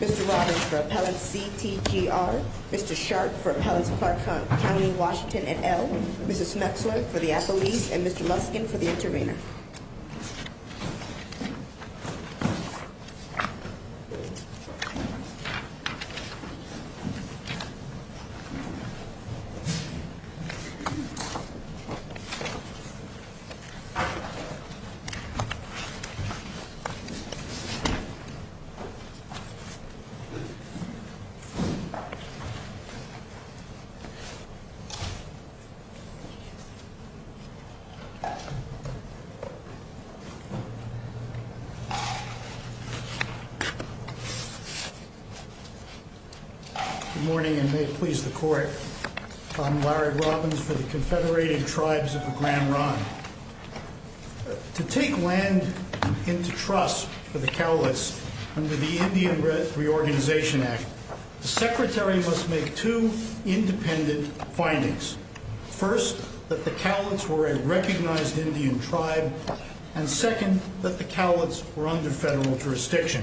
Mr. Robbins for Appellant CTGR, Mr. Sharp for Appellants of Clark County, Washington, et al., Mrs. Schmexler for the Appellees, and Mr. Muskin for the Intervenor. Good morning and may it please the Court, I'm Larry Robbins for the Confederated Tribes of the Grand Ronde. To take land into trust for the Cowlitz under the Indian Reorganization Act, the Secretary must make two independent findings. First, that the Cowlitz were a recognized Indian tribe, and second, that the Cowlitz were under federal jurisdiction.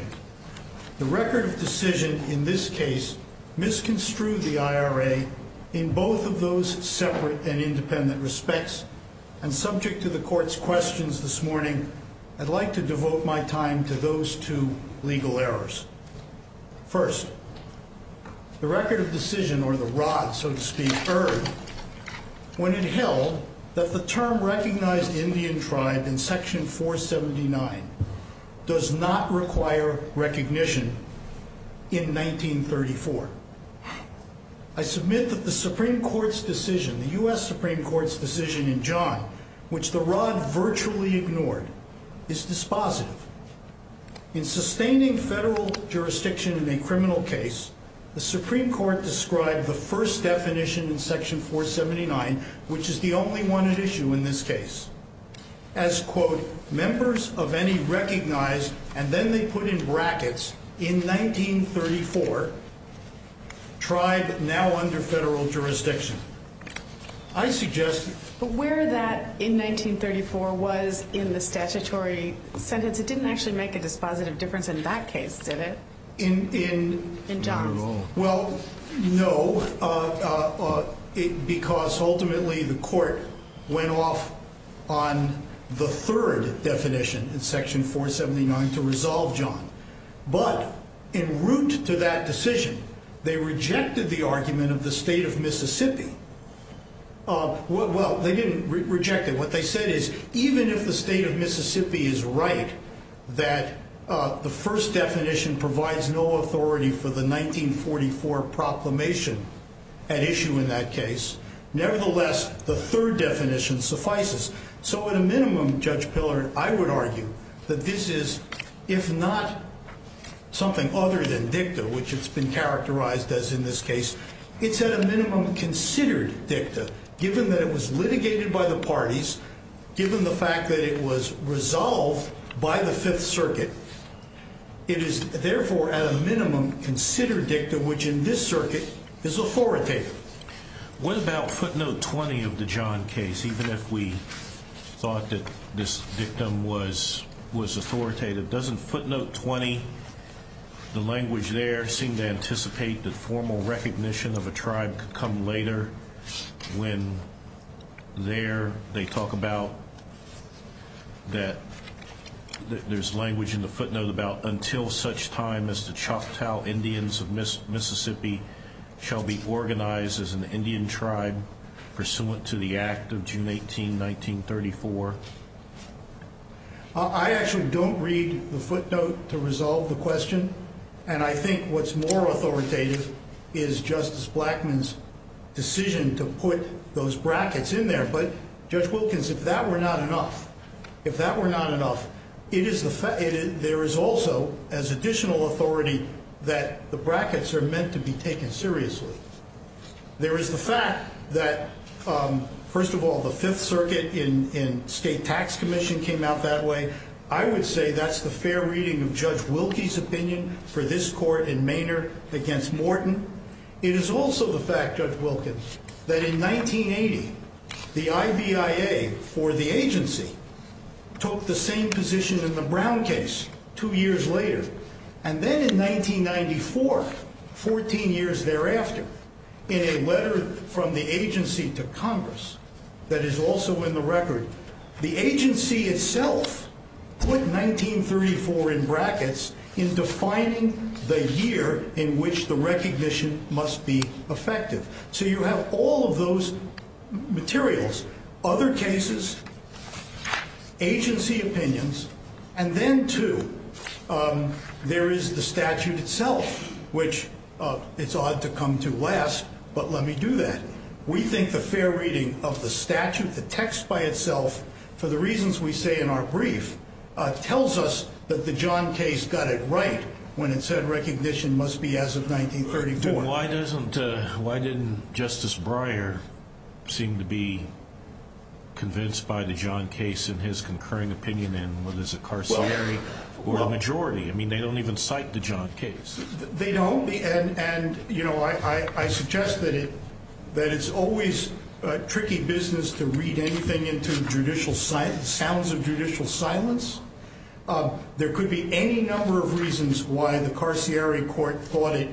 The record of decision in this case misconstrued the IRA in both of those separate and independent respects. And subject to the Court's questions this morning, I'd like to devote my time to those two legal errors. First, the record of decision, or the ROD so to speak, erred when it held that the term recognized Indian tribe in Section 479 does not require recognition in 1934. I submit that the Supreme Court's decision, the U.S. Supreme Court's decision in John, which the ROD virtually ignored, is dispositive. In sustaining federal jurisdiction in a criminal case, the Supreme Court described the first definition in Section 479, which is the only one at issue in this case, as, quote, members of any recognized, and then they put in brackets, in 1934, tribe now under federal jurisdiction. I suggest... But where that in 1934 was in the statutory sentence, it didn't actually make a dispositive difference in that case, did it? In... In John's. Well, no, because ultimately the Court went off on the third definition in Section 479 to resolve John. But in route to that decision, they rejected the argument of the state of Mississippi. Well, they didn't reject it. What they said is even if the state of Mississippi is right that the first definition provides no authority for the 1944 proclamation at issue in that case, nevertheless, the third definition suffices. So at a minimum, Judge Pillard, I would argue that this is, if not something other than dicta, which it's been characterized as in this case, it's at a minimum considered dicta, given that it was litigated by the parties, given the fact that it was resolved by the Fifth Circuit. It is, therefore, at a minimum considered dicta, which in this circuit is authoritative. What about footnote 20 of the John case, even if we thought that this dictum was authoritative? Doesn't footnote 20, the language there, seem to anticipate that formal recognition of a tribe could come later when there they talk about that there's language in the footnote about until such time as the Choctaw Indians of Mississippi shall be organized as an Indian tribe pursuant to the act of June 18, 1934? I actually don't read the footnote to resolve the question. And I think what's more authoritative is Justice Blackmun's decision to put those brackets in there. But Judge Wilkins, if that were not enough, if that were not enough, there is also as additional authority that the brackets are meant to be taken seriously. There is the fact that, first of all, the Fifth Circuit in State Tax Commission came out that way. I would say that's the fair reading of Judge Wilkie's opinion for this court in Manor against Morton. It is also the fact, Judge Wilkins, that in 1980, the IVIA for the agency took the same position in the Brown case two years later. And then in 1994, 14 years thereafter, in a letter from the agency to Congress that is also in the record, the agency itself put 1934 in brackets in defining the year in which the recognition must be effective. So you have all of those materials, other cases, agency opinions. And then, too, there is the statute itself, which it's odd to come to last, but let me do that. We think the fair reading of the statute, the text by itself, for the reasons we say in our brief, tells us that the John case got it right when it said recognition must be as of 1934. Why didn't Justice Breyer seem to be convinced by the John case in his concurring opinion in what is a carcinery or a majority? I mean, they don't even cite the John case. They don't. And, you know, I suggest that it's always a tricky business to read anything into judicial silence, sounds of judicial silence. There could be any number of reasons why the carcinery court thought it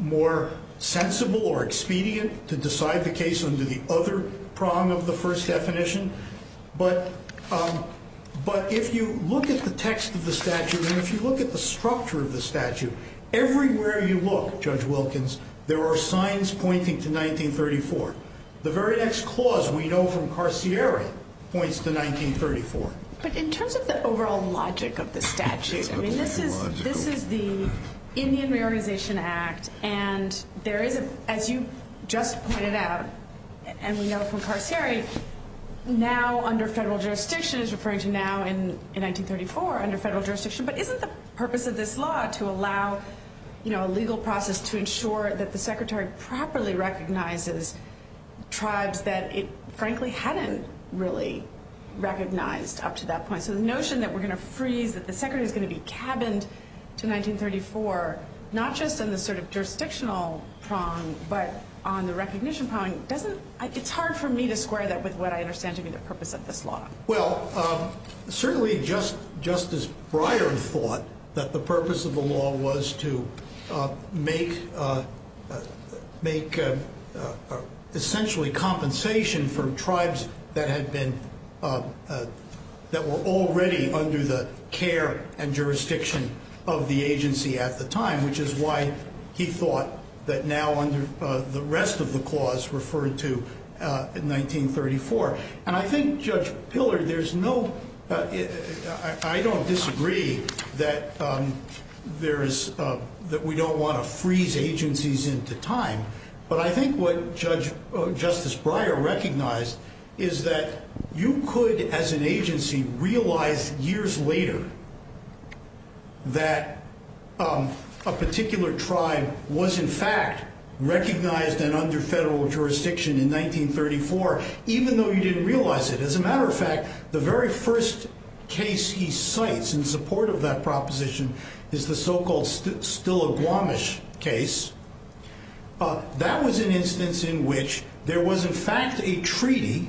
more sensible or expedient to decide the case under the other prong of the first definition. But if you look at the text of the statute and if you look at the structure of the statute, everywhere you look, Judge Wilkins, there are signs pointing to 1934. The very next clause we know from carcinery points to 1934. But in terms of the overall logic of the statute, I mean, this is the Indian Reorganization Act, and there is, as you just pointed out, and we know from carcinery, now under federal jurisdiction is referring to now in 1934, under federal jurisdiction, but isn't the purpose of this law to allow, you know, a legal process to ensure that the Secretary properly recognizes tribes that it frankly hadn't really recognized up to that point? So the notion that we're going to freeze, that the Secretary is going to be cabined to 1934, not just in the sort of jurisdictional prong but on the recognition prong, it's hard for me to square that with what I understand to be the purpose of this law. Well, certainly Justice Breyer thought that the purpose of the law was to make essentially compensation for tribes that were already under the care and jurisdiction of the agency at the time, which is why he thought that now under the rest of the clause referred to in 1934. And I think, Judge Pillar, there's no, I don't disagree that there is, that we don't want to freeze agencies into time, but I think what Justice Breyer recognized is that you could, as an agency, realize years later that a particular tribe was in fact recognized and under federal jurisdiction in 1934, even though you didn't realize it. As a matter of fact, the very first case he cites in support of that proposition is the so-called Still a Guamish case. That was an instance in which there was in fact a treaty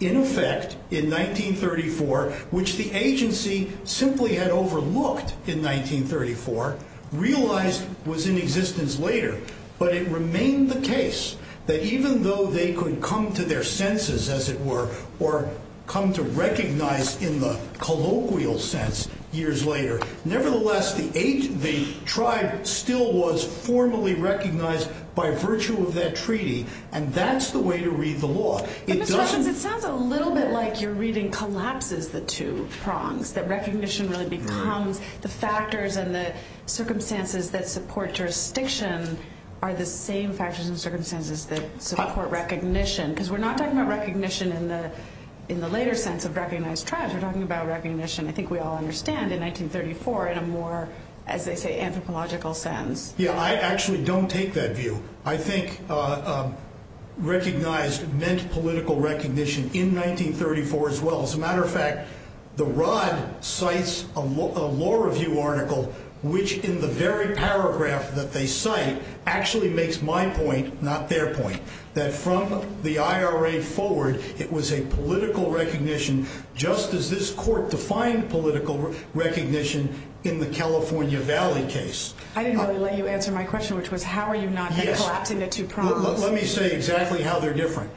in effect in 1934, which the agency simply had overlooked in 1934, realized was in existence later, but it remained the case that even though they could come to their senses, as it were, or come to recognize in the colloquial sense years later, nevertheless, the tribe still was formally recognized by virtue of that treaty, and that's the way to read the law. But, Mr. Hutchins, it sounds a little bit like your reading collapses the two prongs, that recognition really becomes the factors and the circumstances that support jurisdiction are the same factors and circumstances that support recognition, because we're not talking about recognition in the later sense of recognized tribes. We're talking about recognition, I think we all understand, in 1934 in a more, as they say, anthropological sense. Yeah, I actually don't take that view. I think recognized meant political recognition in 1934 as well. As a matter of fact, the Rod cites a law review article, which in the very paragraph that they cite, actually makes my point, not their point, that from the IRA forward, it was a political recognition, just as this court defined political recognition in the California Valley case. I didn't really let you answer my question, which was how are you not collapsing the two prongs? Let me say exactly how they're different.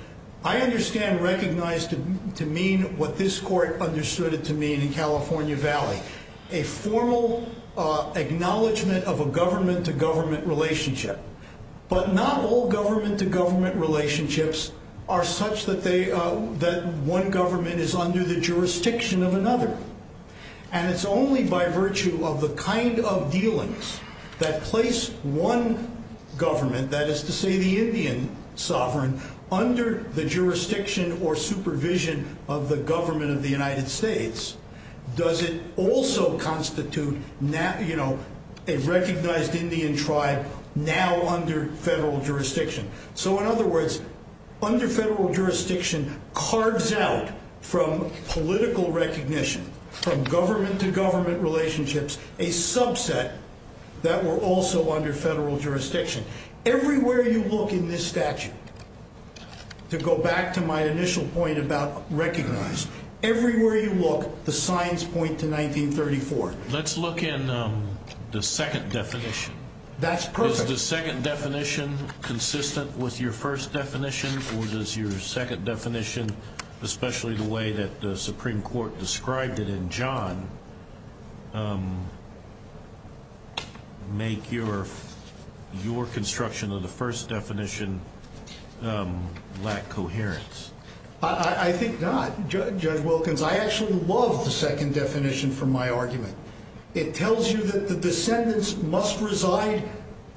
I understand recognized to mean what this court understood it to mean in California Valley, a formal acknowledgement of a government-to-government relationship. But not all government-to-government relationships are such that one government is under the jurisdiction of another. And it's only by virtue of the kind of dealings that place one government, that is to say the Indian sovereign, under the jurisdiction or supervision of the government of the United States, does it also constitute a recognized Indian tribe now under federal jurisdiction. So in other words, under federal jurisdiction carves out from political recognition, from government-to-government relationships, a subset that were also under federal jurisdiction. Everywhere you look in this statute, to go back to my initial point about recognized, everywhere you look, the signs point to 1934. Let's look in the second definition. That's perfect. Is the second definition consistent with your first definition, or does your second definition, especially the way that the Supreme Court described it in John, make your construction of the first definition lack coherence? I think not, Judge Wilkins. I actually love the second definition from my argument. It tells you that the descendants must reside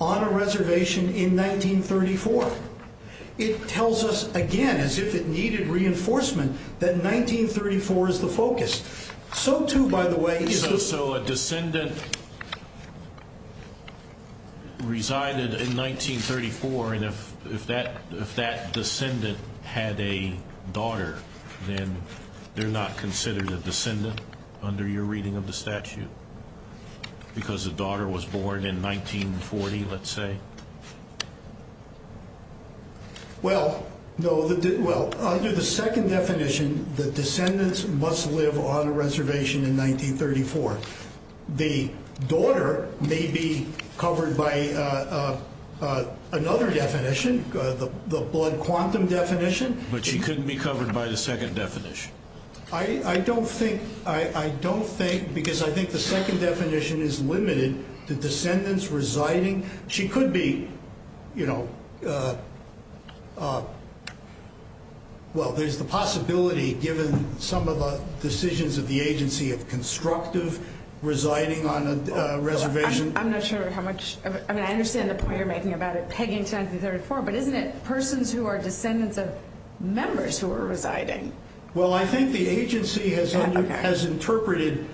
on a reservation in 1934. It tells us, again, as if it needed reinforcement, that 1934 is the focus. So too, by the way, is the – So a descendant resided in 1934, and if that descendant had a daughter, then they're not considered a descendant under your reading of the statute, because the daughter was born in 1940, let's say? Well, under the second definition, the descendants must live on a reservation in 1934. The daughter may be covered by another definition, the blood quantum definition. But she couldn't be covered by the second definition. I don't think – because I think the second definition is limited to descendants residing. She could be – well, there's the possibility, given some of the decisions of the agency, of constructive residing on a reservation. I'm not sure how much – I mean, I understand the point you're making about it pegging to 1934, but isn't it persons who are descendants of members who are residing? Well, I think the agency has interpreted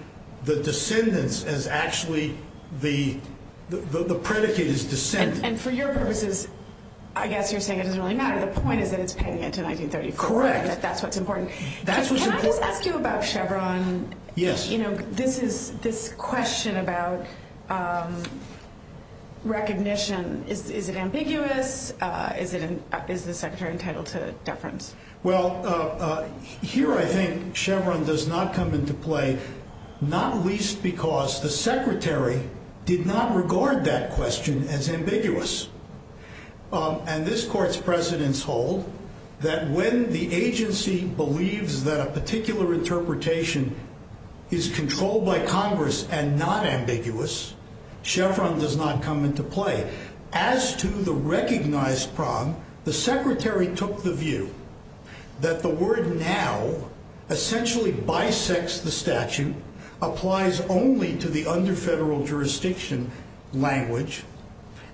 the descendants as actually – the predicate is descendant. And for your purposes, I guess you're saying it doesn't really matter. The point is that it's pegging it to 1934. Correct. That's what's important. That's what's important. Can I just ask you about Chevron? Yes. You know, this is – this question about recognition, is it ambiguous? Is it – is the Secretary entitled to deference? Well, here I think Chevron does not come into play, not least because the Secretary did not regard that question as ambiguous. And this Court's precedents hold that when the agency believes that a particular interpretation is controlled by Congress and not ambiguous, Chevron does not come into play. As to the recognized problem, the Secretary took the view that the word now essentially bisects the statute, applies only to the under federal jurisdiction language,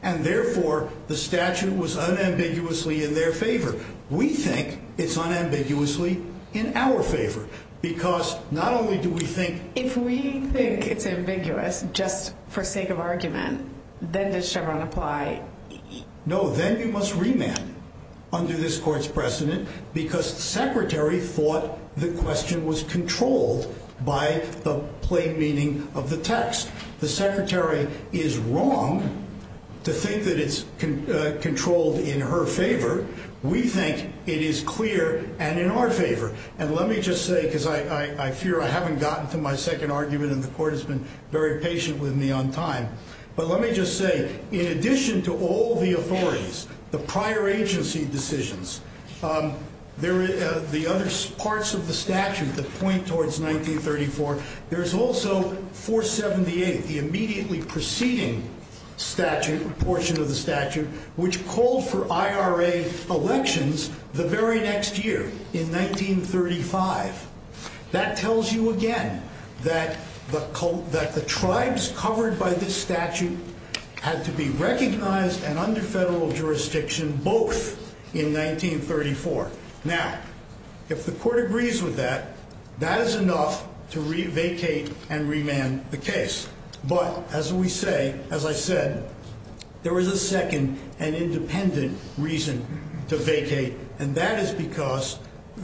and therefore the statute was unambiguously in their favor. We think it's unambiguously in our favor because not only do we think – If we think it's ambiguous just for sake of argument, then does Chevron apply? No, then you must remand under this Court's precedent because the Secretary thought the question was controlled by the plain meaning of the text. The Secretary is wrong to think that it's controlled in her favor. We think it is clear and in our favor. And let me just say, because I fear I haven't gotten to my second argument and the Court has been very patient with me on time, but let me just say, in addition to all the authorities, the prior agency decisions, the other parts of the statute that point towards 1934, there's also 478, the immediately preceding portion of the statute, which called for IRA elections the very next year, in 1935. That tells you again that the tribes covered by this statute had to be recognized and under federal jurisdiction both in 1934. Now, if the Court agrees with that, that is enough to vacate and remand the case. But, as we say, as I said, there is a second and independent reason to vacate, and that is because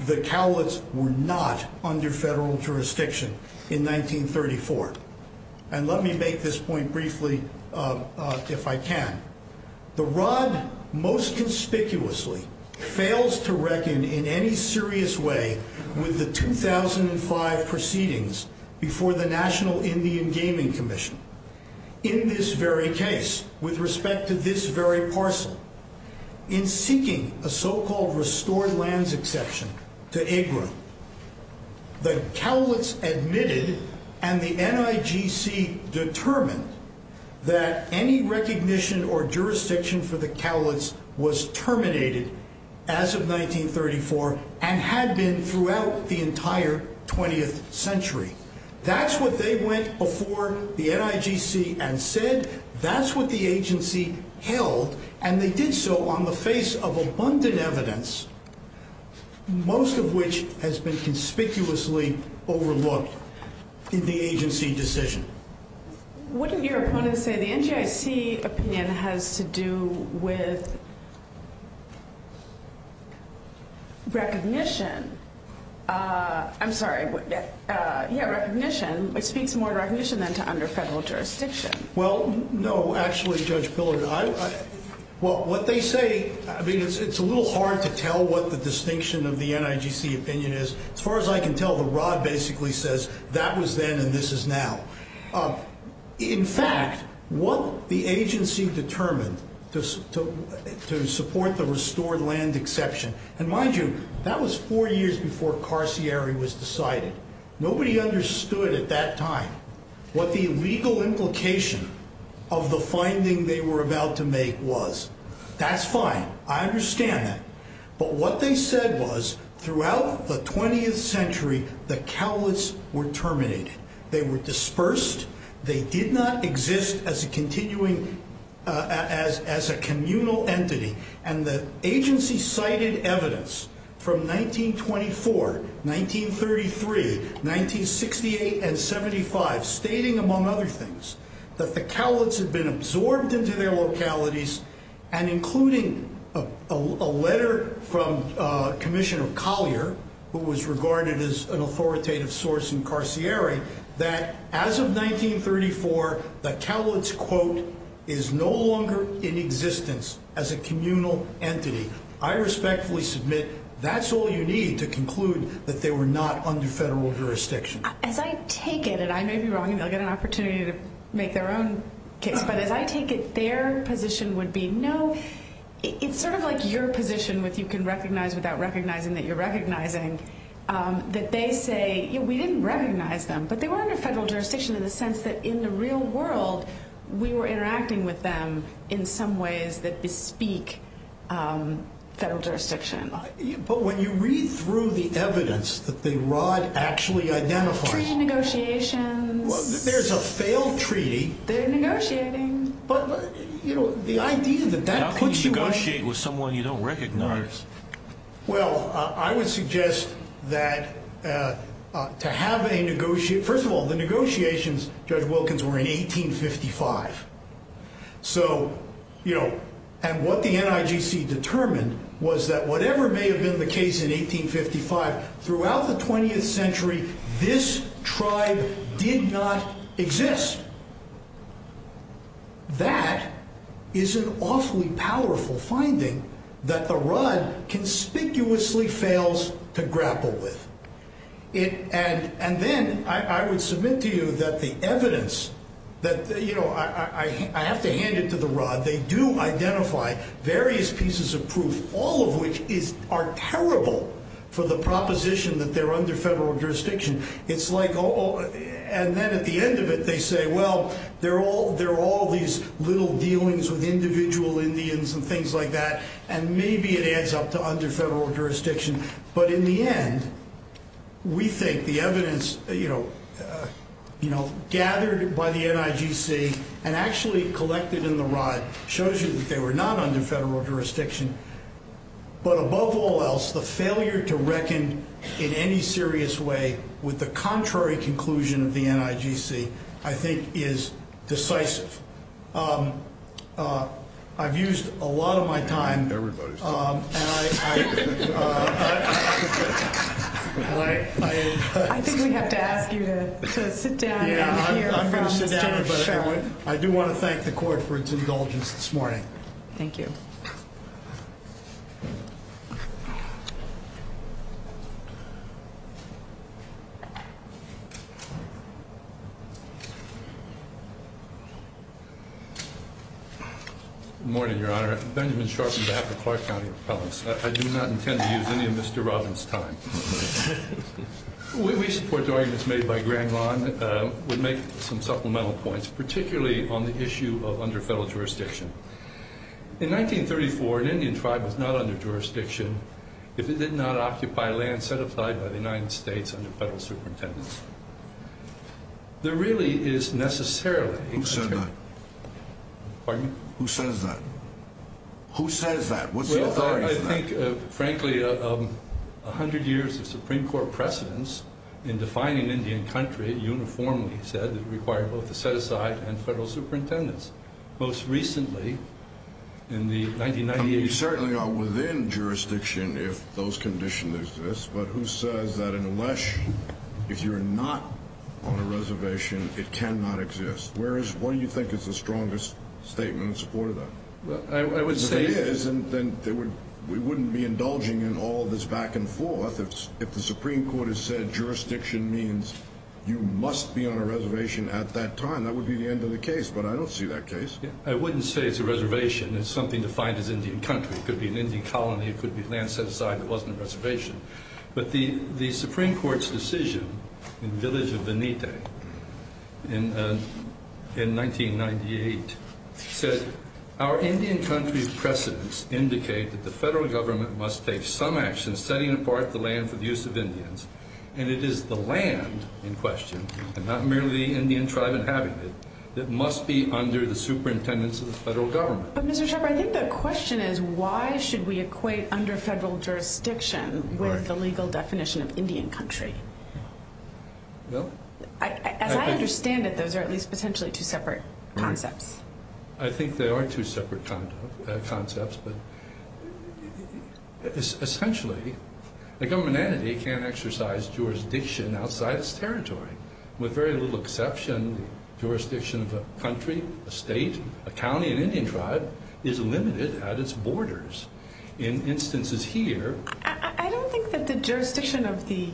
the Cowlitz were not under federal jurisdiction in 1934. And let me make this point briefly, if I can. The R.O.D. most conspicuously fails to reckon in any serious way with the 2005 proceedings before the National Indian Gaming Commission. In this very case, with respect to this very parcel, in seeking a so-called restored lands exception to IGRA, the Cowlitz admitted and the NIGC determined that any recognition or jurisdiction for the Cowlitz was terminated as of 1934 and had been throughout the entire 20th century. That's what they went before the NIGC and said. That's what the agency held, and they did so on the face of abundant evidence, most of which has been conspicuously overlooked in the agency decision. What did your opponent say? The NGIC opinion has to do with recognition. I'm sorry. Yeah, recognition. It speaks more to recognition than to under federal jurisdiction. Well, no, actually, Judge Pillard. Well, what they say, I mean, it's a little hard to tell what the distinction of the NIGC opinion is. As far as I can tell, the rod basically says that was then and this is now. In fact, what the agency determined to support the restored land exception. And mind you, that was four years before Carcieri was decided. Nobody understood at that time what the legal implication of the finding they were about to make was. That's fine. I understand that. But what they said was throughout the 20th century, the Cowlitz were terminated. They were dispersed. They did not exist as a continuing as as a communal entity. And the agency cited evidence from 1924, 1933, 1968 and 75, stating, among other things, that the Cowlitz had been absorbed into their localities. And including a letter from Commissioner Collier, who was regarded as an authoritative source in Carcieri, that as of 1934, the Cowlitz quote is no longer in existence as a communal entity. I respectfully submit that's all you need to conclude that they were not under federal jurisdiction. As I take it, and I may be wrong and they'll get an opportunity to make their own case. But as I take it, their position would be no. It's sort of like your position with you can recognize without recognizing that you're recognizing that they say we didn't recognize them. But they were under federal jurisdiction in the sense that in the real world, we were interacting with them in some ways that bespeak federal jurisdiction. But when you read through the evidence that the Rod actually identifies negotiations, there's a failed treaty. They're negotiating. But, you know, the idea that that puts you... How can you negotiate with someone you don't recognize? Well, I would suggest that to have a negotiate... First of all, the negotiations, Judge Wilkins, were in 1855. So, you know, and what the NIGC determined was that whatever may have been the case in 1855, throughout the 20th century, this tribe did not exist. That is an awfully powerful finding that the Rod conspicuously fails to grapple with. And then I would submit to you that the evidence that, you know, I have to hand it to the Rod. They do identify various pieces of proof, all of which are terrible for the proposition that they're under federal jurisdiction. It's like... And then at the end of it, they say, well, there are all these little dealings with individual Indians and things like that. And maybe it adds up to under federal jurisdiction. But in the end, we think the evidence, you know, gathered by the NIGC and actually collected in the Rod shows you that they were not under federal jurisdiction. But above all else, the failure to reckon in any serious way with the contrary conclusion of the NIGC, I think, is decisive. I've used a lot of my time. I think we have to ask you to sit down. I do want to thank the court for its indulgence this morning. Thank you. Good morning, Your Honor. Benjamin Sharpen, behalf of Clark County Appellants. I do not intend to use any of Mr. Robbins' time. We support the arguments made by Grand Lawn, would make some supplemental points, particularly on the issue of under federal jurisdiction. In 1934, an Indian tribe was not under jurisdiction if it did not occupy land set aside by the United States under federal superintendence. There really is necessarily. Who said that? Pardon me? Who says that? Who says that? What's the authority for that? Well, I think, frankly, a hundred years of Supreme Court precedence in defining Indian country uniformly said it required both a set aside and federal superintendence. Most recently, in the 1998- You certainly are within jurisdiction if those conditions exist, but who says that unless, if you're not on a reservation, it cannot exist? What do you think is the strongest statement in support of that? I would say- If it is, then we wouldn't be indulging in all this back and forth. If the Supreme Court has said jurisdiction means you must be on a reservation at that time, that would be the end of the case, but I don't see that case. I wouldn't say it's a reservation. It's something defined as Indian country. It could be an Indian colony. It could be land set aside that wasn't a reservation, but the Supreme Court's decision in the village of Benite in 1998 said, our Indian country's precedence indicate that the federal government must take some action setting apart the land for the use of Indians, and it is the land in question, and not merely the Indian tribe inhabiting it, that must be under the superintendence of the federal government. But, Mr. Shepard, I think the question is why should we equate under federal jurisdiction with the legal definition of Indian country? Well- As I understand it, those are at least potentially two separate concepts. I think they are two separate concepts, but essentially the government entity can't exercise jurisdiction outside its territory, with very little exception, the jurisdiction of a country, a state, a county, an Indian tribe is limited at its borders. In instances here- I don't think that the jurisdiction of the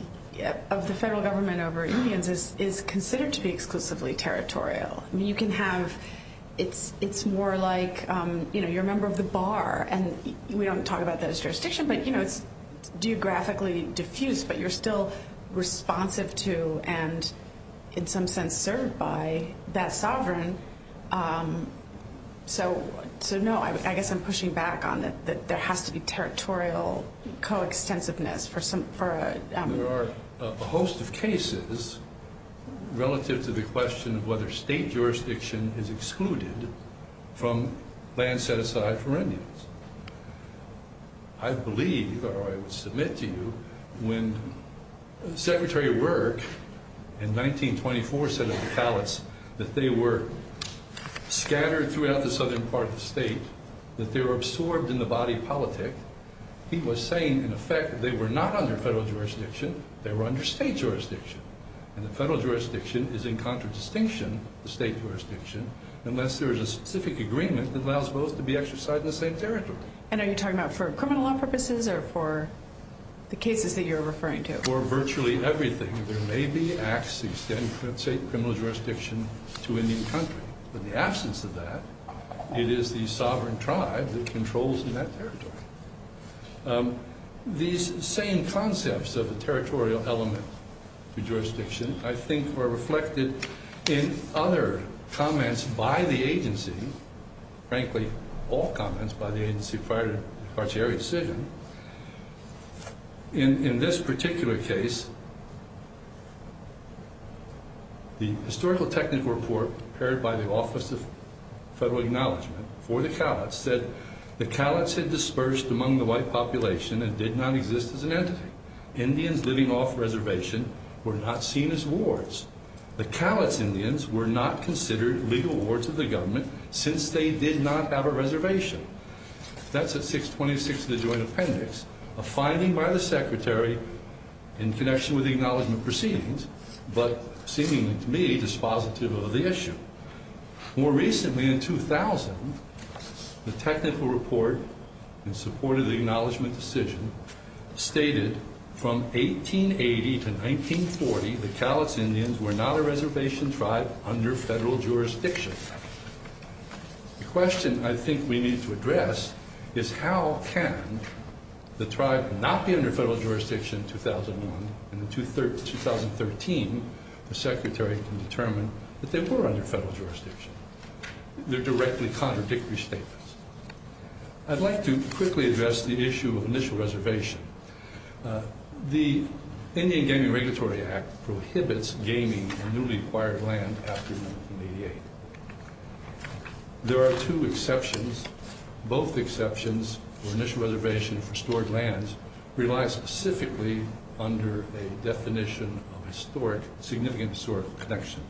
federal government over Indians is considered to be exclusively territorial. You can have, it's more like you're a member of the bar, and we don't talk about that as jurisdiction, but it's geographically diffused, but you're still responsive to, and in some sense served by, that sovereign. So, no, I guess I'm pushing back on it, that there has to be territorial co-extensiveness for- There are a host of cases relative to the question of whether state jurisdiction is excluded from land set aside for Indians. I believe, or I would submit to you, when Secretary of Work in 1924 said of the palates that they were scattered throughout the southern part of the state, that they were absorbed in the body politic, he was saying, in effect, that they were not under federal jurisdiction, they were under state jurisdiction. And the federal jurisdiction is in contradistinction of the state jurisdiction, unless there is a specific agreement that allows both to be exercised in the same territory. And are you talking about for criminal law purposes, or for the cases that you're referring to? For virtually everything, there may be acts that extend, let's say, criminal jurisdiction to Indian country. In the absence of that, it is the sovereign tribe that controls that territory. These same concepts of the territorial element to jurisdiction, I think, were reflected in other comments by the agency, frankly, all comments by the agency prior to the Cartier decision. In this particular case, the historical technical report prepared by the Office of Federal Acknowledgement for the palates said the palates had dispersed among the white population and did not exist as an entity. Indians living off reservation were not seen as wards. The palates Indians were not considered legal wards of the government, since they did not have a reservation. That's at 626 of the Joint Appendix, a finding by the Secretary in connection with the acknowledgement proceedings, but seeming to me dispositive of the issue. More recently, in 2000, the technical report in support of the acknowledgement decision stated, from 1880 to 1940, the palates Indians were not a reservation tribe under federal jurisdiction. The question I think we need to address is how can the tribe not be under federal jurisdiction in 2001, and in 2013, the Secretary can determine that they were under federal jurisdiction. They're directly contradictory statements. I'd like to quickly address the issue of initial reservation. The Indian Gaming Regulatory Act prohibits gaming in newly acquired land after 1988. There are two exceptions. Both exceptions for initial reservation for stored lands rely specifically under a definition of historic, significant historical connection.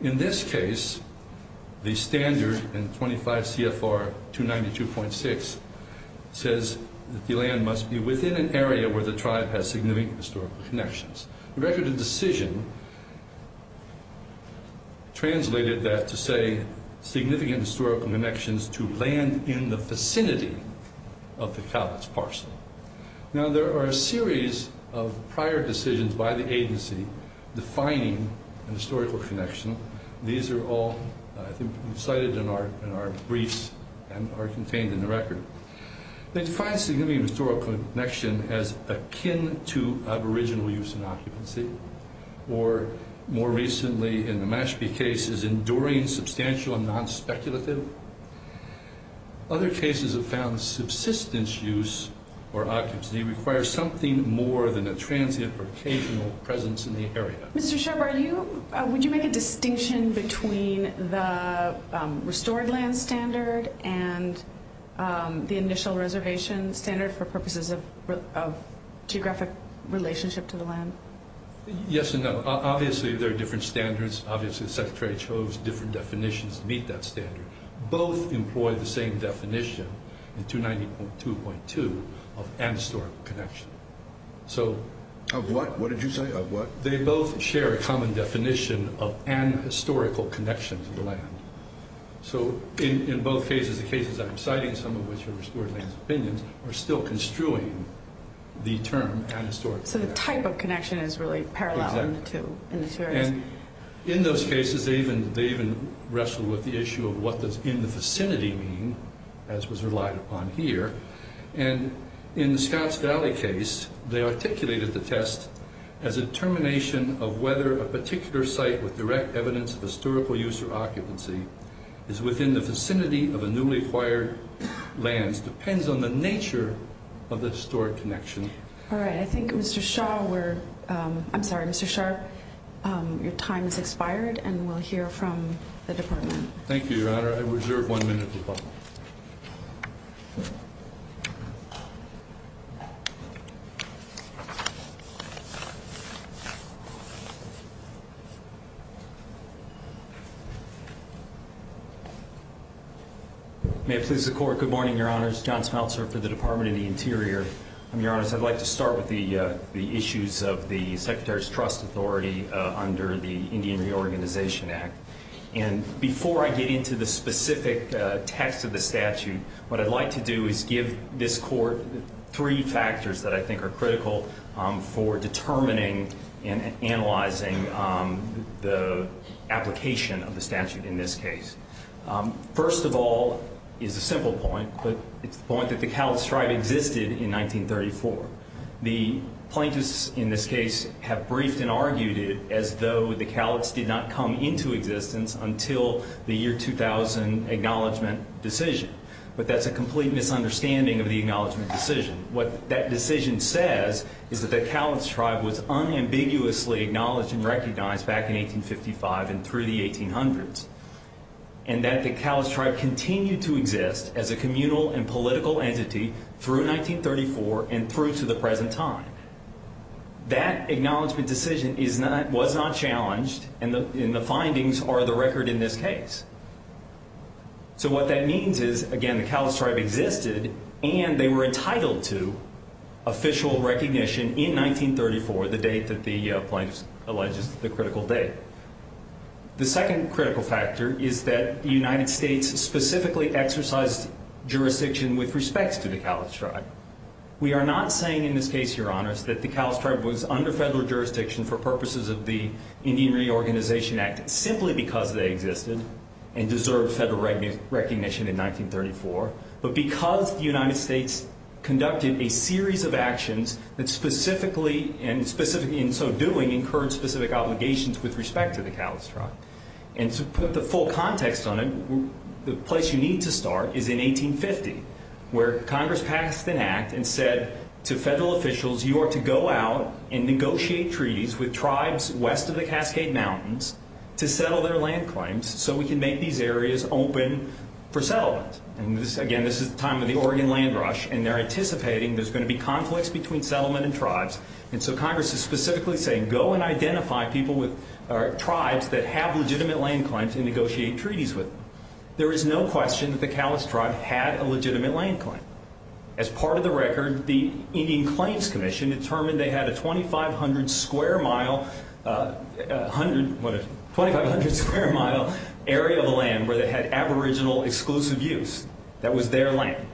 In this case, the standard in 25 CFR 292.6 says that the land must be within an area where the tribe has significant historical connections. The record of decision translated that to say significant historical connections to land in the vicinity of the palates parcel. Now, there are a series of prior decisions by the agency defining a historical connection. These are all cited in our briefs and are contained in the record. They define significant historical connection as akin to aboriginal use and occupancy, or more recently in the Mashpee case, is enduring, substantial, and non-speculative. Other cases have found subsistence use or occupancy requires something more than a transient or occasional presence in the area. Mr. Sherb, would you make a distinction between the restored land standard and the initial reservation standard for purposes of geographic relationship to the land? Yes and no. Obviously, there are different standards. Obviously, the Secretary chose different definitions to meet that standard. Both employ the same definition in 290.2.2 of an historical connection. Of what? What did you say? They both share a common definition of an historical connection to the land. In both cases, the cases I'm citing, some of which are restored land opinions, are still construing the term an historical connection. The type of connection is really parallel in the two areas. In those cases, they even wrestle with the issue of what does in the vicinity mean, as was relied upon here. In the Scotts Valley case, they articulated the test as a determination of whether a particular site with direct evidence of historical use or occupancy is within the vicinity of a newly acquired land. It depends on the nature of the restored connection. All right. I think Mr. Sherb, your time has expired, and we'll hear from the department. Thank you, Your Honor. I reserve one minute to talk. May it please the Court. Good morning, Your Honors. John Smeltzer for the Department of the Interior. Your Honors, I'd like to start with the issues of the Secretary's Trust Authority under the Indian Reorganization Act. Before I get into the specific text of the statute, what I'd like to do is give this Court three factors that I think are critical for determining and analyzing the application of the statute in this case. First of all is a simple point, but it's the point that the Cowlitz Tribe existed in 1934. The plaintiffs in this case have briefed and argued it as though the Cowlitz did not come into existence until the year 2000 acknowledgment decision. But that's a complete misunderstanding of the acknowledgment decision. What that decision says is that the Cowlitz Tribe was unambiguously acknowledged and recognized back in 1855 and through the 1800s, and that the Cowlitz Tribe continued to exist as a communal and political entity through 1934 and through to the present time. That acknowledgment decision was not challenged, and the findings are the record in this case. So what that means is, again, the Cowlitz Tribe existed, and they were entitled to official recognition in 1934, the date that the plaintiffs allege is the critical date. The second critical factor is that the United States specifically exercised jurisdiction with respect to the Cowlitz Tribe. We are not saying in this case, Your Honors, that the Cowlitz Tribe was under federal jurisdiction for purposes of the Indian Reorganization Act simply because they existed and deserved federal recognition in 1934, but because the United States conducted a series of actions that specifically, and so doing, incurred specific obligations with respect to the Cowlitz Tribe. And to put the full context on it, the place you need to start is in 1850, where Congress passed an act and said to federal officials, you are to go out and negotiate treaties with tribes west of the Cascade Mountains to settle their land claims so we can make these areas open for settlement. And again, this is the time of the Oregon land rush, and they're anticipating there's going to be conflicts between settlement and tribes. And so Congress is specifically saying, go and identify tribes that have legitimate land claims and negotiate treaties with them. There is no question that the Cowlitz Tribe had a legitimate land claim. As part of the record, the Indian Claims Commission determined they had a 2,500 square mile area of land where they had aboriginal exclusive use. That was their land.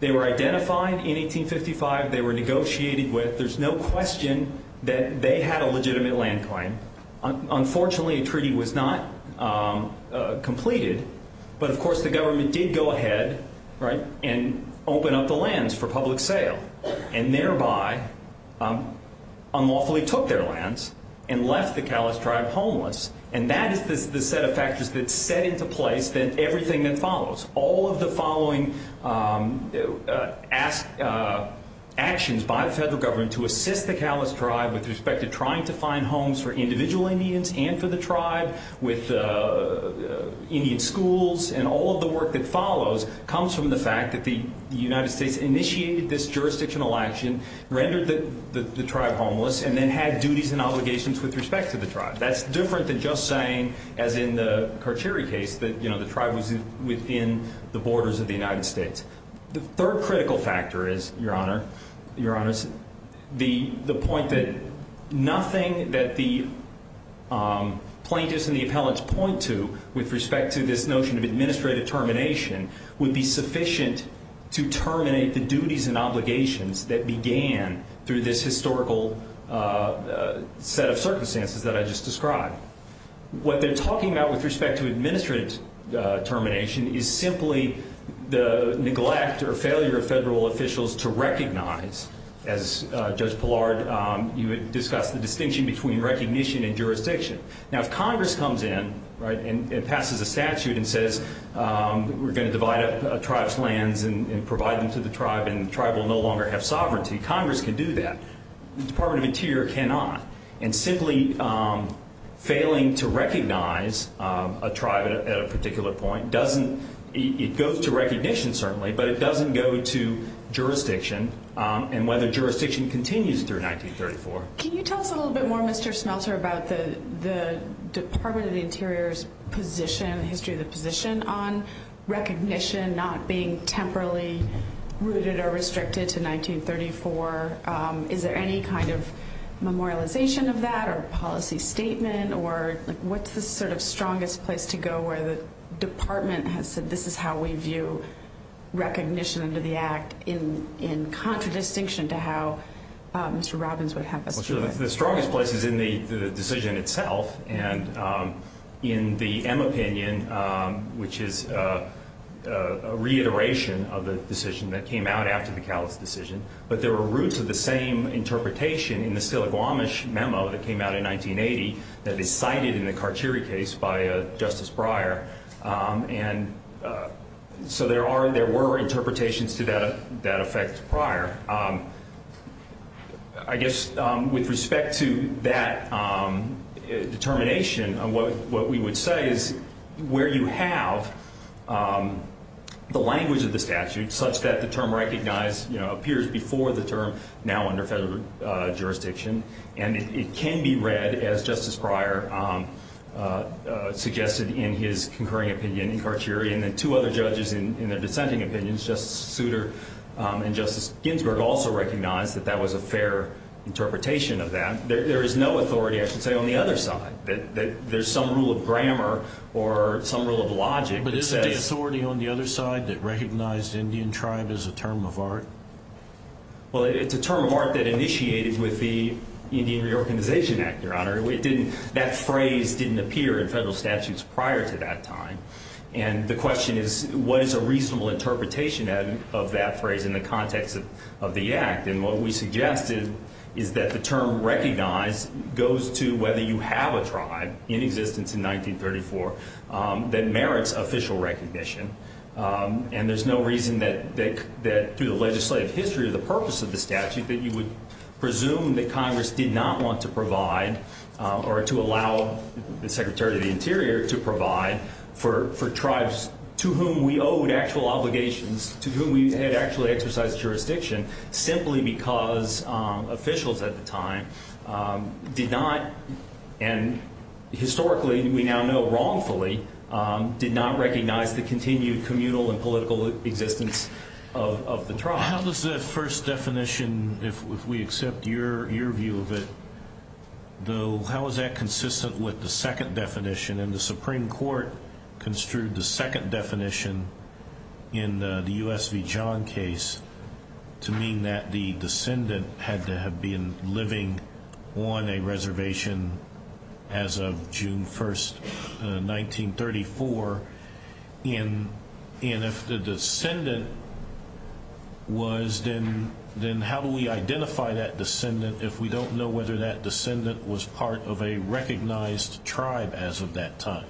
They were identified in 1855. They were negotiated with. There's no question that they had a legitimate land claim. Unfortunately, a treaty was not completed, but of course, the government did go ahead and open up the lands for public sale and thereby unlawfully took their lands and left the Cowlitz Tribe homeless. And that is the set of factors that set into place everything that follows. All of the following actions by the federal government to assist the Cowlitz Tribe with respect to trying to find homes for individual Indians and for the tribe with Indian schools and all of the work that follows comes from the fact that the United States initiated this jurisdictional action, rendered the tribe homeless, and then had duties and obligations with respect to the tribe. That's different than just saying, as in the Karcheri case, that the tribe was within the borders of the United States. The third critical factor is, Your Honor, the point that nothing that the plaintiffs and the appellants point to with respect to this notion of administrative termination would be sufficient to terminate the duties and obligations that began through this historical set of circumstances that I just described. What they're talking about with respect to administrative termination is simply the neglect or failure of federal officials to recognize, as Judge Pillard, you had discussed, the distinction between recognition and jurisdiction. Now, if Congress comes in and passes a statute and says, we're going to divide up a tribe's lands and provide them to the tribe and the tribe will no longer have sovereignty, Congress can do that. The Department of the Interior cannot. And simply failing to recognize a tribe at a particular point doesn't, it goes to recognition, certainly, but it doesn't go to jurisdiction and whether jurisdiction continues through 1934. Can you tell us a little bit more, Mr. Smelter, about the Department of the Interior's position, history of the position on recognition not being temporally rooted or restricted to 1934? Is there any kind of memorialization of that or policy statement? Or what's the sort of strongest place to go where the Department has said, recognition under the Act in contradistinction to how Mr. Robbins would have us do it? The strongest place is in the decision itself and in the M opinion, which is a reiteration of the decision that came out after the Callas decision. But there were roots of the same interpretation in the Stillaguamish memo that came out in 1980 that is cited in the Carchiri case by Justice Breyer. And so there are and there were interpretations to that effect prior. I guess with respect to that determination, what we would say is where you have the language of the statute such that the term recognized appears before the term now under federal jurisdiction and it can be read as Justice Breyer suggested in his concurring opinion in Carchiri and then two other judges in their dissenting opinions, Justice Souter and Justice Ginsburg, also recognized that that was a fair interpretation of that. There is no authority, I should say, on the other side that there's some rule of grammar or some rule of logic that says But isn't there authority on the other side that recognized Indian tribe as a term of art? Well, it's a term of art that initiated with the Indian Reorganization Act, Your Honor. That phrase didn't appear in federal statutes prior to that time. And the question is what is a reasonable interpretation of that phrase in the context of the act? And what we suggested is that the term recognized goes to whether you have a tribe in existence in 1934 that merits official recognition. And there's no reason that through the legislative history of the purpose of the statute that you would presume that Congress did not want to provide or to allow the Secretary of the Interior to provide for tribes to whom we owed actual obligations, to whom we had actually exercised jurisdiction simply because officials at the time did not, and historically we now know wrongfully, did not recognize the continued communal and political existence of the tribe. How does that first definition, if we accept your view of it, how is that consistent with the second definition? And the Supreme Court construed the second definition in the U.S. v. John case to mean that the descendant had to have been living on a reservation as of June 1st, 1934. And if the descendant was, then how do we identify that descendant if we don't know whether that descendant was part of a recognized tribe as of that time?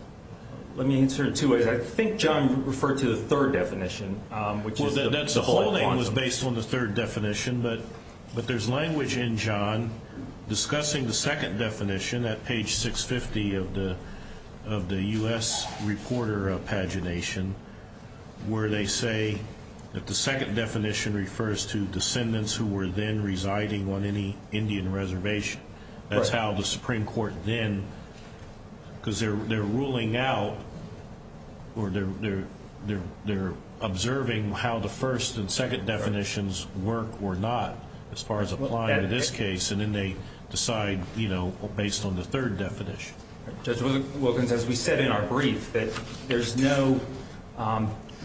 Let me answer it two ways. I think John referred to the third definition, which is the whole concept. John was based on the third definition, but there's language in John discussing the second definition at page 650 of the U.S. reporter pagination where they say that the second definition refers to descendants who were then residing on any Indian reservation. That's how the Supreme Court then, because they're ruling out or they're observing how the first and second definitions work or not as far as applying to this case. And then they decide, you know, based on the third definition. Judge Wilkins, as we said in our brief, that there's no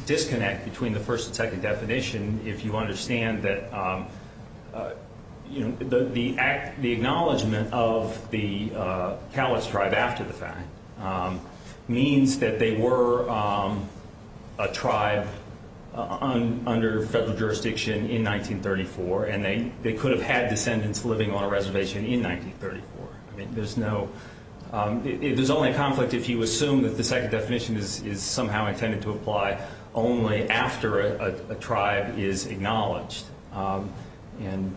disconnect between the first and second definition if you understand that, you know, the acknowledgment of the Kalats tribe after the fact means that they were a tribe under federal jurisdiction in 1934, and they could have had descendants living on a reservation in 1934. I mean, there's only a conflict if you assume that the second definition is somehow intended to apply only after a tribe is acknowledged. And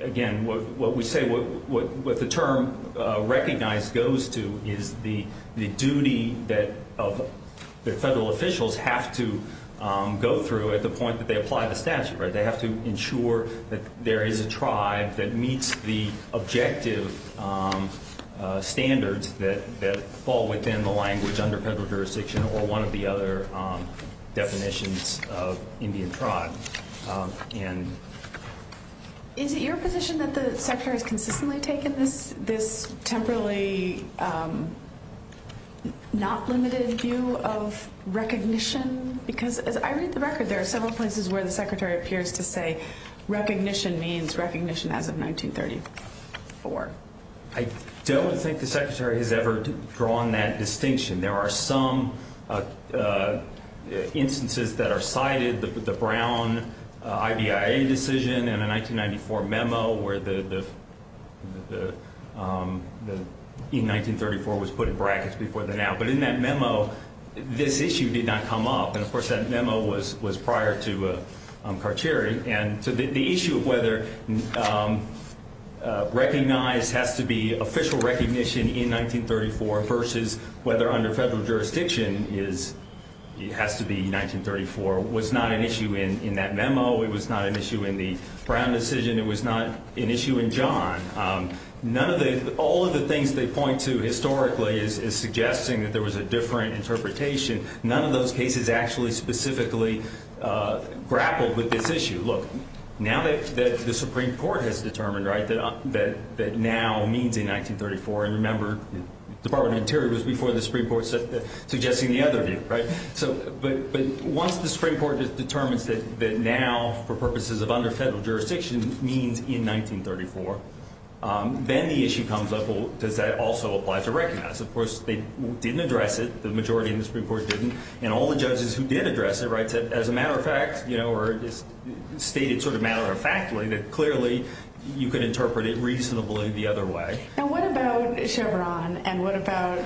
again, what we say, what the term recognized goes to is the duty that federal officials have to go through at the point that they apply the statute, right? They have to ensure that there is a tribe that meets the objective standards that fall within the language under federal jurisdiction or one of the other definitions of Indian tribe. And is it your position that the Secretary has consistently taken this temporarily not limited view of recognition? Because as I read the record, there are several places where the Secretary appears to say recognition means recognition as of 1934. I don't think the Secretary has ever drawn that distinction. There are some instances that are cited, the Brown IBIA decision in a 1994 memo where the 1934 was put in brackets before the now. But in that memo, this issue did not come up. And of course, that memo was prior to Karcheri. And so the issue of whether recognized has to be official recognition in 1934 versus whether under federal jurisdiction it has to be 1934 was not an issue in that memo. It was not an issue in the Brown decision. It was not an issue in John. None of the – all of the things they point to historically is suggesting that there was a different interpretation. None of those cases actually specifically grappled with this issue. Look, now that the Supreme Court has determined, right, that now means in 1934, and remember Department of Interior was before the Supreme Court suggesting the other view, right? But once the Supreme Court determines that now for purposes of under federal jurisdiction means in 1934, then the issue comes up, well, does that also apply to recognize? Of course, they didn't address it. The majority in the Supreme Court didn't. And all the judges who did address it, right, said as a matter of fact, you know, or stated sort of matter of factly that clearly you could interpret it reasonably the other way. And what about Chevron and what about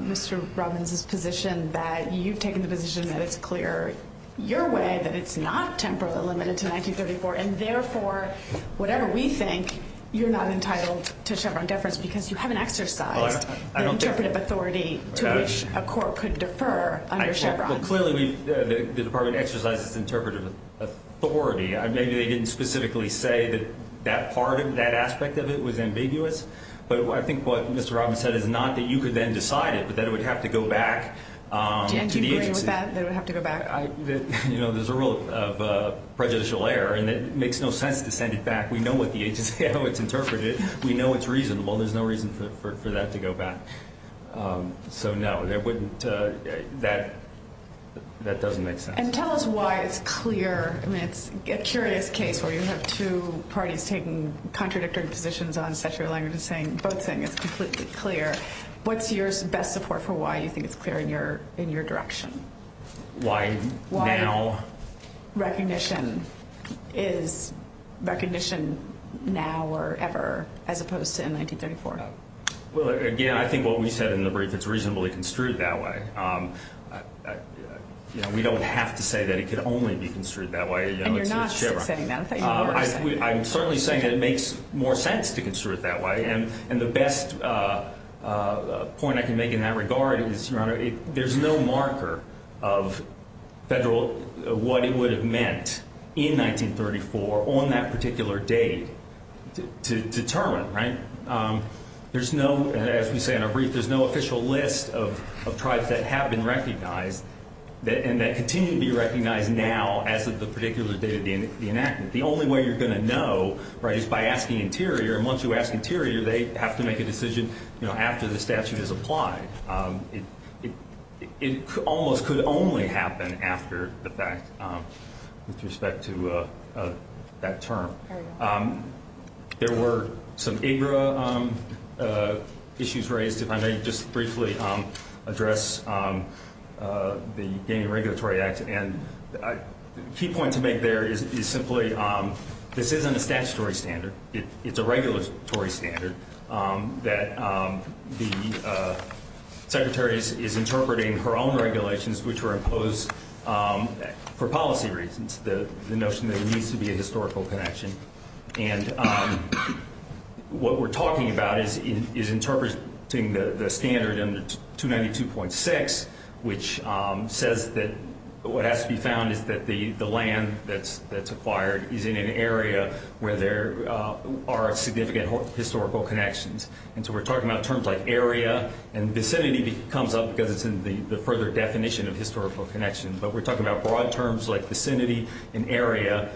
Mr. Robbins' position that you've taken the position that it's clear your way, that it's not temporarily limited to 1934, and therefore whatever we think you're not entitled to Chevron deference because you haven't exercised the interpretive authority to which a court could defer under Chevron? Well, clearly the department exercises interpretive authority. Maybe they didn't specifically say that that part of it, that aspect of it was ambiguous. But I think what Mr. Robbins said is not that you could then decide it, but that it would have to go back to the agency. Do you agree with that, that it would have to go back? You know, there's a rule of prejudicial error, and it makes no sense to send it back. We know what the agency, how it's interpreted. We know it's reasonable. There's no reason for that to go back. So, no, that doesn't make sense. And tell us why it's clear. I mean, it's a curious case where you have two parties taking contradictory positions on statutory language and both saying it's completely clear. What's your best support for why you think it's clear in your direction? Why now? Recognition. Is recognition now or ever as opposed to in 1934? Well, again, I think what we said in the brief, it's reasonably construed that way. You know, we don't have to say that it could only be construed that way. And you're not saying that. I'm certainly saying that it makes more sense to construe it that way. And the best point I can make in that regard is, Your Honor, there's no marker of what it would have meant in 1934 on that particular date to determine, right? There's no, as we say in our brief, there's no official list of tribes that have been recognized and that continue to be recognized now as of the particular date of the enactment. The only way you're going to know, right, is by asking Interior. And once you ask Interior, they have to make a decision, you know, after the statute is applied. It almost could only happen after the fact with respect to that term. There were some AGRA issues raised, if I may just briefly address the Gaming Regulatory Act. And a key point to make there is simply this isn't a statutory standard. It's a regulatory standard that the Secretary is interpreting her own regulations which were imposed for policy reasons, the notion that there needs to be a historical connection. And what we're talking about is interpreting the standard in 292.6, which says that what has to be found is that the land that's acquired is in an area where there are significant historical connections. And so we're talking about terms like area, and vicinity comes up because it's in the further definition of historical connection. But we're talking about broad terms like vicinity and area,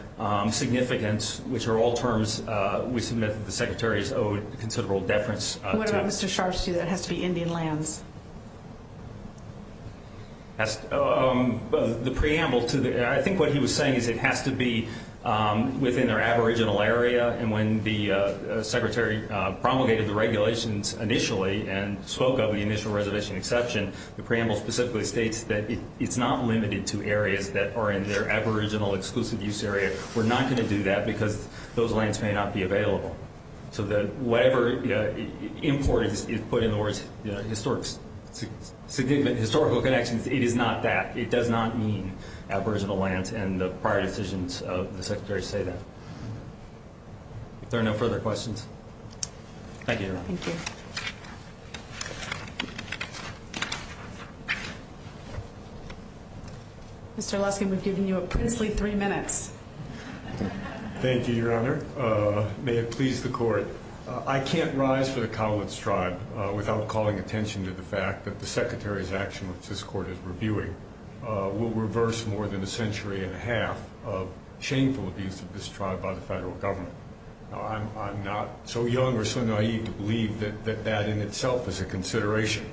significance, which are all terms we submit that the Secretary has owed considerable deference to. What about Mr. Sharfstein? That has to be Indian lands. The preamble to that, I think what he was saying is it has to be within their aboriginal area. And when the Secretary promulgated the regulations initially and spoke of the initial reservation exception, the preamble specifically states that it's not limited to areas that are in their aboriginal exclusive use area. We're not going to do that because those lands may not be available. So whatever importance is put in the words, significant historical connections, it is not that. It does not mean aboriginal lands, and the prior decisions of the Secretary say that. If there are no further questions. Thank you, Your Honor. Thank you. Mr. Luskin, we've given you a princely three minutes. Thank you, Your Honor. Your Honor, may it please the Court. I can't rise for the Cowlitz tribe without calling attention to the fact that the Secretary's action, which this Court is reviewing, will reverse more than a century and a half of shameful abuse of this tribe by the federal government. I'm not so young or so naive to believe that that in itself is a consideration.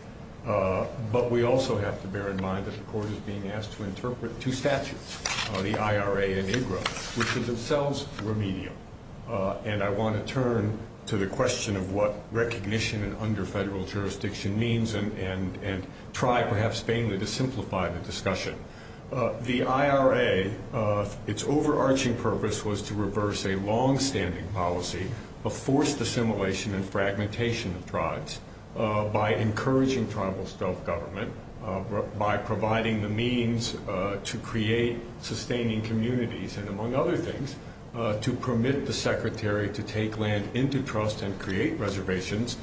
But we also have to bear in mind that the Court is being asked to interpret two statutes, the IRA and IGRA, which are themselves remedial. And I want to turn to the question of what recognition under federal jurisdiction means and try, perhaps vainly, to simplify the discussion. The IRA, its overarching purpose was to reverse a longstanding policy of forced assimilation and fragmentation of tribes by encouraging tribal self-government, by providing the means to create sustaining communities and, among other things, to permit the Secretary to take land into trust and create reservations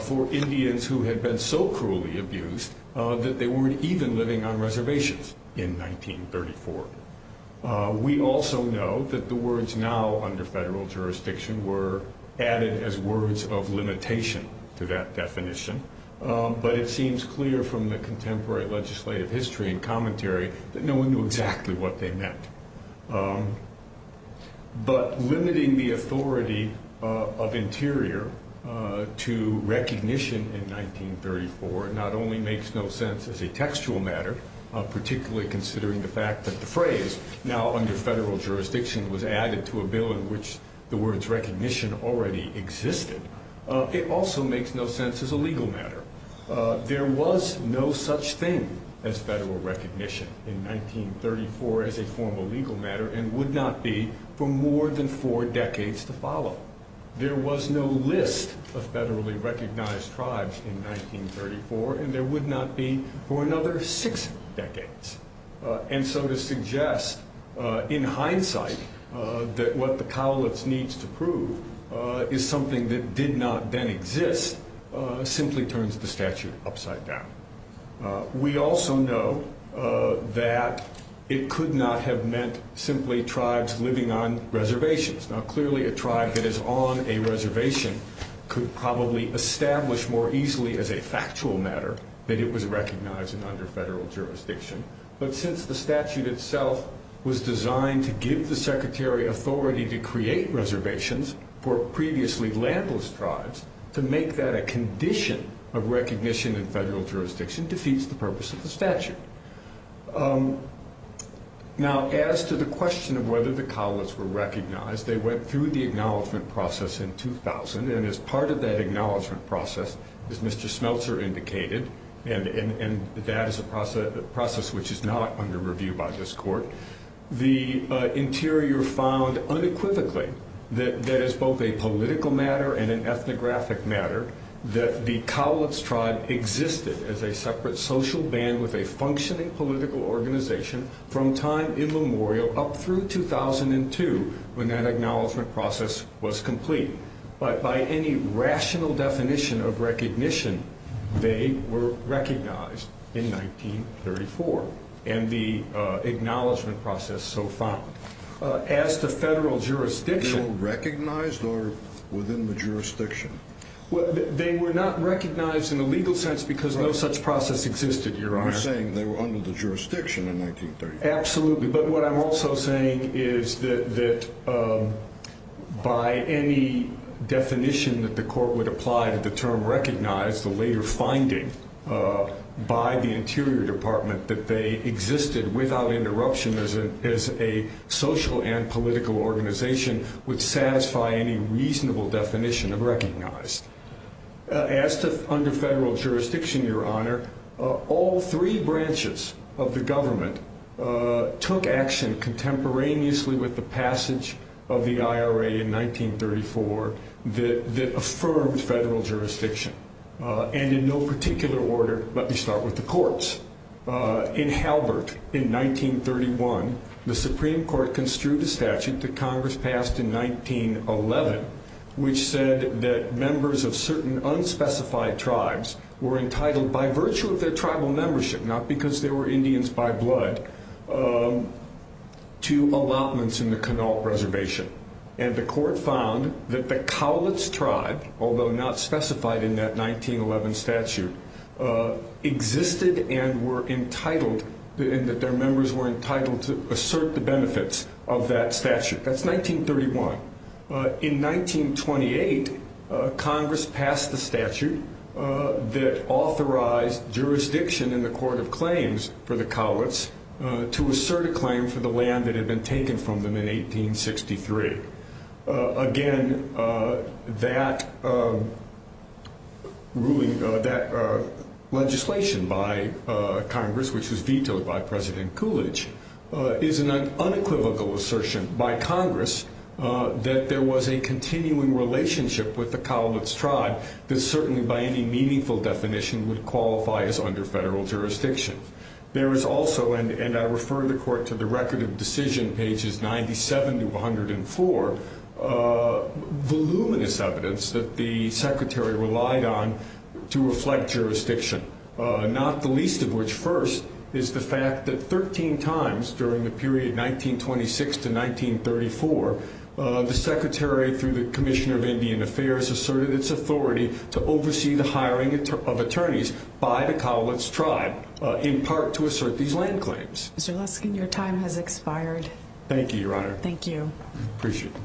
for Indians who had been so cruelly abused that they weren't even living on reservations in 1934. We also know that the words now under federal jurisdiction were added as words of limitation to that definition. But it seems clear from the contemporary legislative history and commentary that no one knew exactly what they meant. But limiting the authority of Interior to recognition in 1934 not only makes no sense as a textual matter, particularly considering the fact that the phrase now under federal jurisdiction was added to a bill in which the words recognition already existed, it also makes no sense as a legal matter. There was no such thing as federal recognition in 1934 as a formal legal matter and would not be for more than four decades to follow. There was no list of federally recognized tribes in 1934 and there would not be for another six decades. And so to suggest in hindsight that what the Cowlitz needs to prove is something that did not then exist simply turns the statute upside down. We also know that it could not have meant simply tribes living on reservations. Now clearly a tribe that is on a reservation could probably establish more easily as a factual matter that it was recognized under federal jurisdiction. But since the statute itself was designed to give the Secretary authority to create reservations for previously landless tribes, to make that a condition of recognition in federal jurisdiction defeats the purpose of the statute. Now as to the question of whether the Cowlitz were recognized, they went through the acknowledgement process in 2000 and as part of that acknowledgement process, as Mr. Smeltzer indicated, and that is a process which is not under review by this court, the interior found unequivocally that that is both a political matter and an ethnographic matter, that the Cowlitz tribe existed as a separate social band with a functioning political organization from time immemorial up through 2002 when that acknowledgement process was complete. But by any rational definition of recognition, they were recognized in 1934 and the acknowledgement process so found. As to federal jurisdiction... They were recognized or within the jurisdiction? They were not recognized in a legal sense because no such process existed, Your Honor. You're saying they were under the jurisdiction in 1934. Absolutely, but what I'm also saying is that by any definition that the court would apply to the term recognized, the later finding by the Interior Department that they existed without interruption as a social and political organization would satisfy any reasonable definition of recognized. As to under federal jurisdiction, Your Honor, all three branches of the government took action contemporaneously with the passage of the IRA in 1934 that affirmed federal jurisdiction. And in no particular order, let me start with the courts. In Halbert in 1931, the Supreme Court construed a statute that Congress passed in 1911 which said that members of certain unspecified tribes were entitled by virtue of their tribal membership, not because they were Indians by blood, to allotments in the Connaught Reservation. And the court found that the Cowlitz tribe, although not specified in that 1911 statute, existed and that their members were entitled to assert the benefits of that statute. That's 1931. In 1928, Congress passed the statute that authorized jurisdiction in the Court of Claims for the Cowlitz to assert a claim for the land that had been taken from them in 1863. Again, that legislation by Congress, which was vetoed by President Coolidge, is an unequivocal assertion by Congress that there was a continuing relationship with the Cowlitz tribe that certainly by any meaningful definition would qualify as under federal jurisdiction. There is also, and I refer the court to the Record of Decision, pages 97 to 104, voluminous evidence that the Secretary relied on to reflect jurisdiction, not the least of which first is the fact that 13 times during the period 1926 to 1934, the Secretary, through the Commissioner of Indian Affairs, asserted its authority to oversee the hiring of attorneys by the Cowlitz tribe, in part to assert these land claims. Mr. Luskin, your time has expired. Thank you, Your Honor. Thank you. I appreciate it.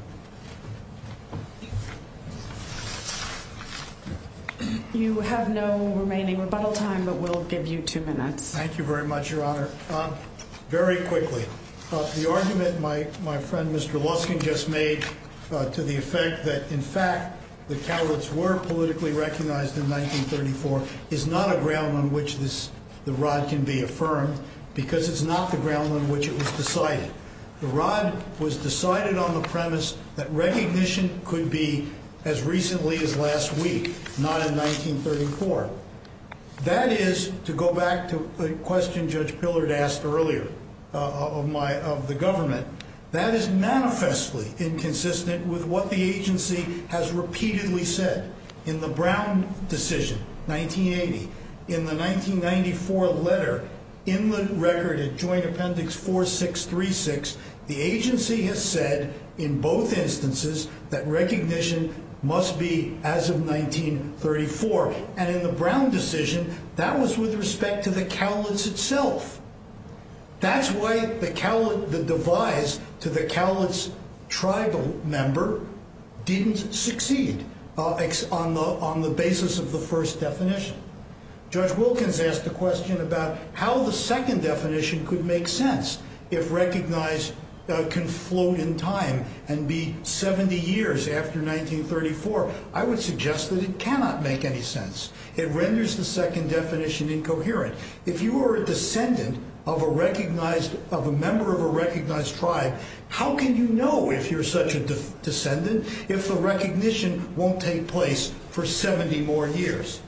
You have no remaining rebuttal time, but we'll give you two minutes. Thank you very much, Your Honor. Very quickly, the argument my friend Mr. Luskin just made to the effect that, in fact, the Cowlitz were politically recognized in 1934 is not a ground on which the rod can be affirmed because it's not the ground on which it was decided. The rod was decided on the premise that recognition could be as recently as last week, not in 1934. That is, to go back to the question Judge Pillard asked earlier of the government, that is manifestly inconsistent with what the agency has repeatedly said. In the Brown decision, 1980, in the 1994 letter, in the record at Joint Appendix 4636, the agency has said in both instances that recognition must be as of 1934. And in the Brown decision, that was with respect to the Cowlitz itself. That's why the devise to the Cowlitz tribal member didn't succeed on the basis of the first definition. Judge Wilkins asked the question about how the second definition could make sense if recognized can float in time and be 70 years after 1934. I would suggest that it cannot make any sense. It renders the second definition incoherent. If you are a descendant of a recognized, of a member of a recognized tribe, how can you know if you're such a descendant if the recognition won't take place for 70 more years?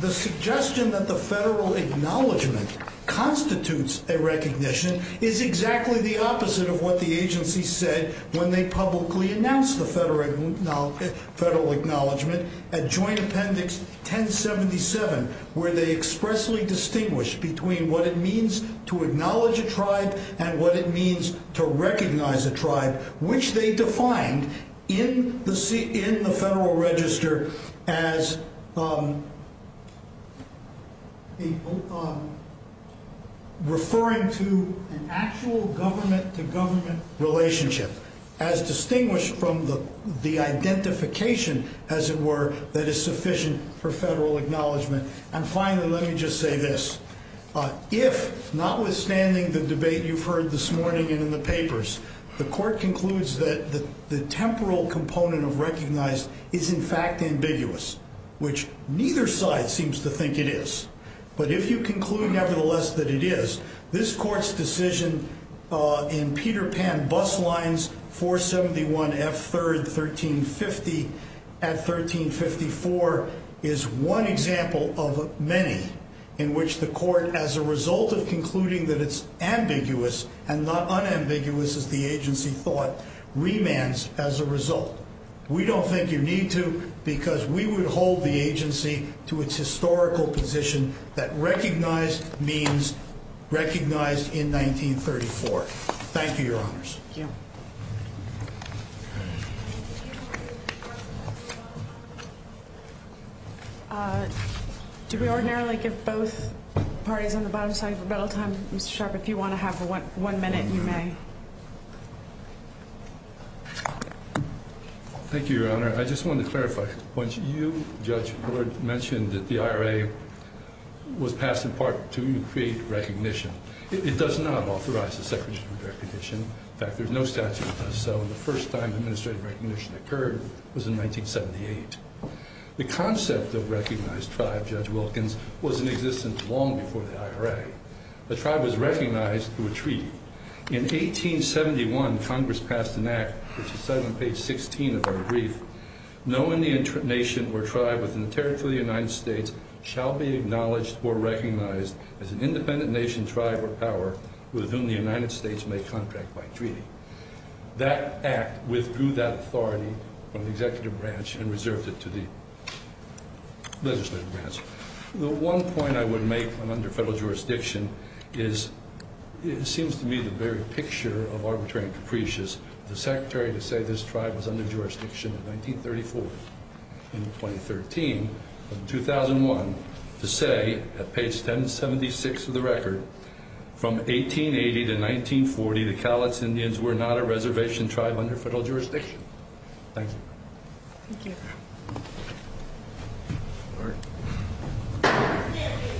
The suggestion that the federal acknowledgment constitutes a recognition is exactly the opposite of what the agency said when they publicly announced the federal acknowledgment at Joint Appendix 1077, where they expressly distinguished between what it means to acknowledge a tribe and what it means to recognize a tribe, which they defined in the federal register as referring to an actual government-to-government relationship as distinguished from the identification, as it were, that is sufficient for federal acknowledgment. And finally, let me just say this. If, notwithstanding the debate you've heard this morning and in the papers, the Court concludes that the temporal component of recognized is in fact ambiguous, which neither side seems to think it is. But if you conclude, nevertheless, that it is, this Court's decision in Peter Pan Bus Lines 471 F. 3rd, 1350 at 1354 is one example of many in which the Court, as a result of concluding that it's ambiguous and not unambiguous as the agency thought, remands as a result. We don't think you need to because we would hold the agency to its historical position that recognized means recognized in 1934. Thank you, Your Honors. Thank you. Do we ordinarily give both parties on the bottom side of rebuttal time, Mr. Sharpe, or if you want to have one minute, you may. Thank you, Your Honor. I just wanted to clarify. Once you, Judge Bullard, mentioned that the IRA was passed in part to create recognition, it does not authorize the Secretary of Recognition. In fact, there's no statute that does so, and the first time administrative recognition occurred was in 1978. The concept of recognized tribe, Judge Wilkins, was in existence long before the IRA. The tribe was recognized through a treaty. In 1871, Congress passed an act, which is cited on page 16 of our brief, no Indian nation or tribe within the territory of the United States shall be acknowledged or recognized as an independent nation, tribe, or power with whom the United States may contract by treaty. That act withdrew that authority from the executive branch and reserved it to the legislative branch. The one point I would make, when under federal jurisdiction, is it seems to me the very picture of arbitrary and capricious for the Secretary to say this tribe was under jurisdiction in 1934. In 2013, in 2001, to say, at page 1076 of the record, from 1880 to 1940, the Cowlitz Indians were not a reservation tribe under federal jurisdiction. Thank you. Thank you. All right.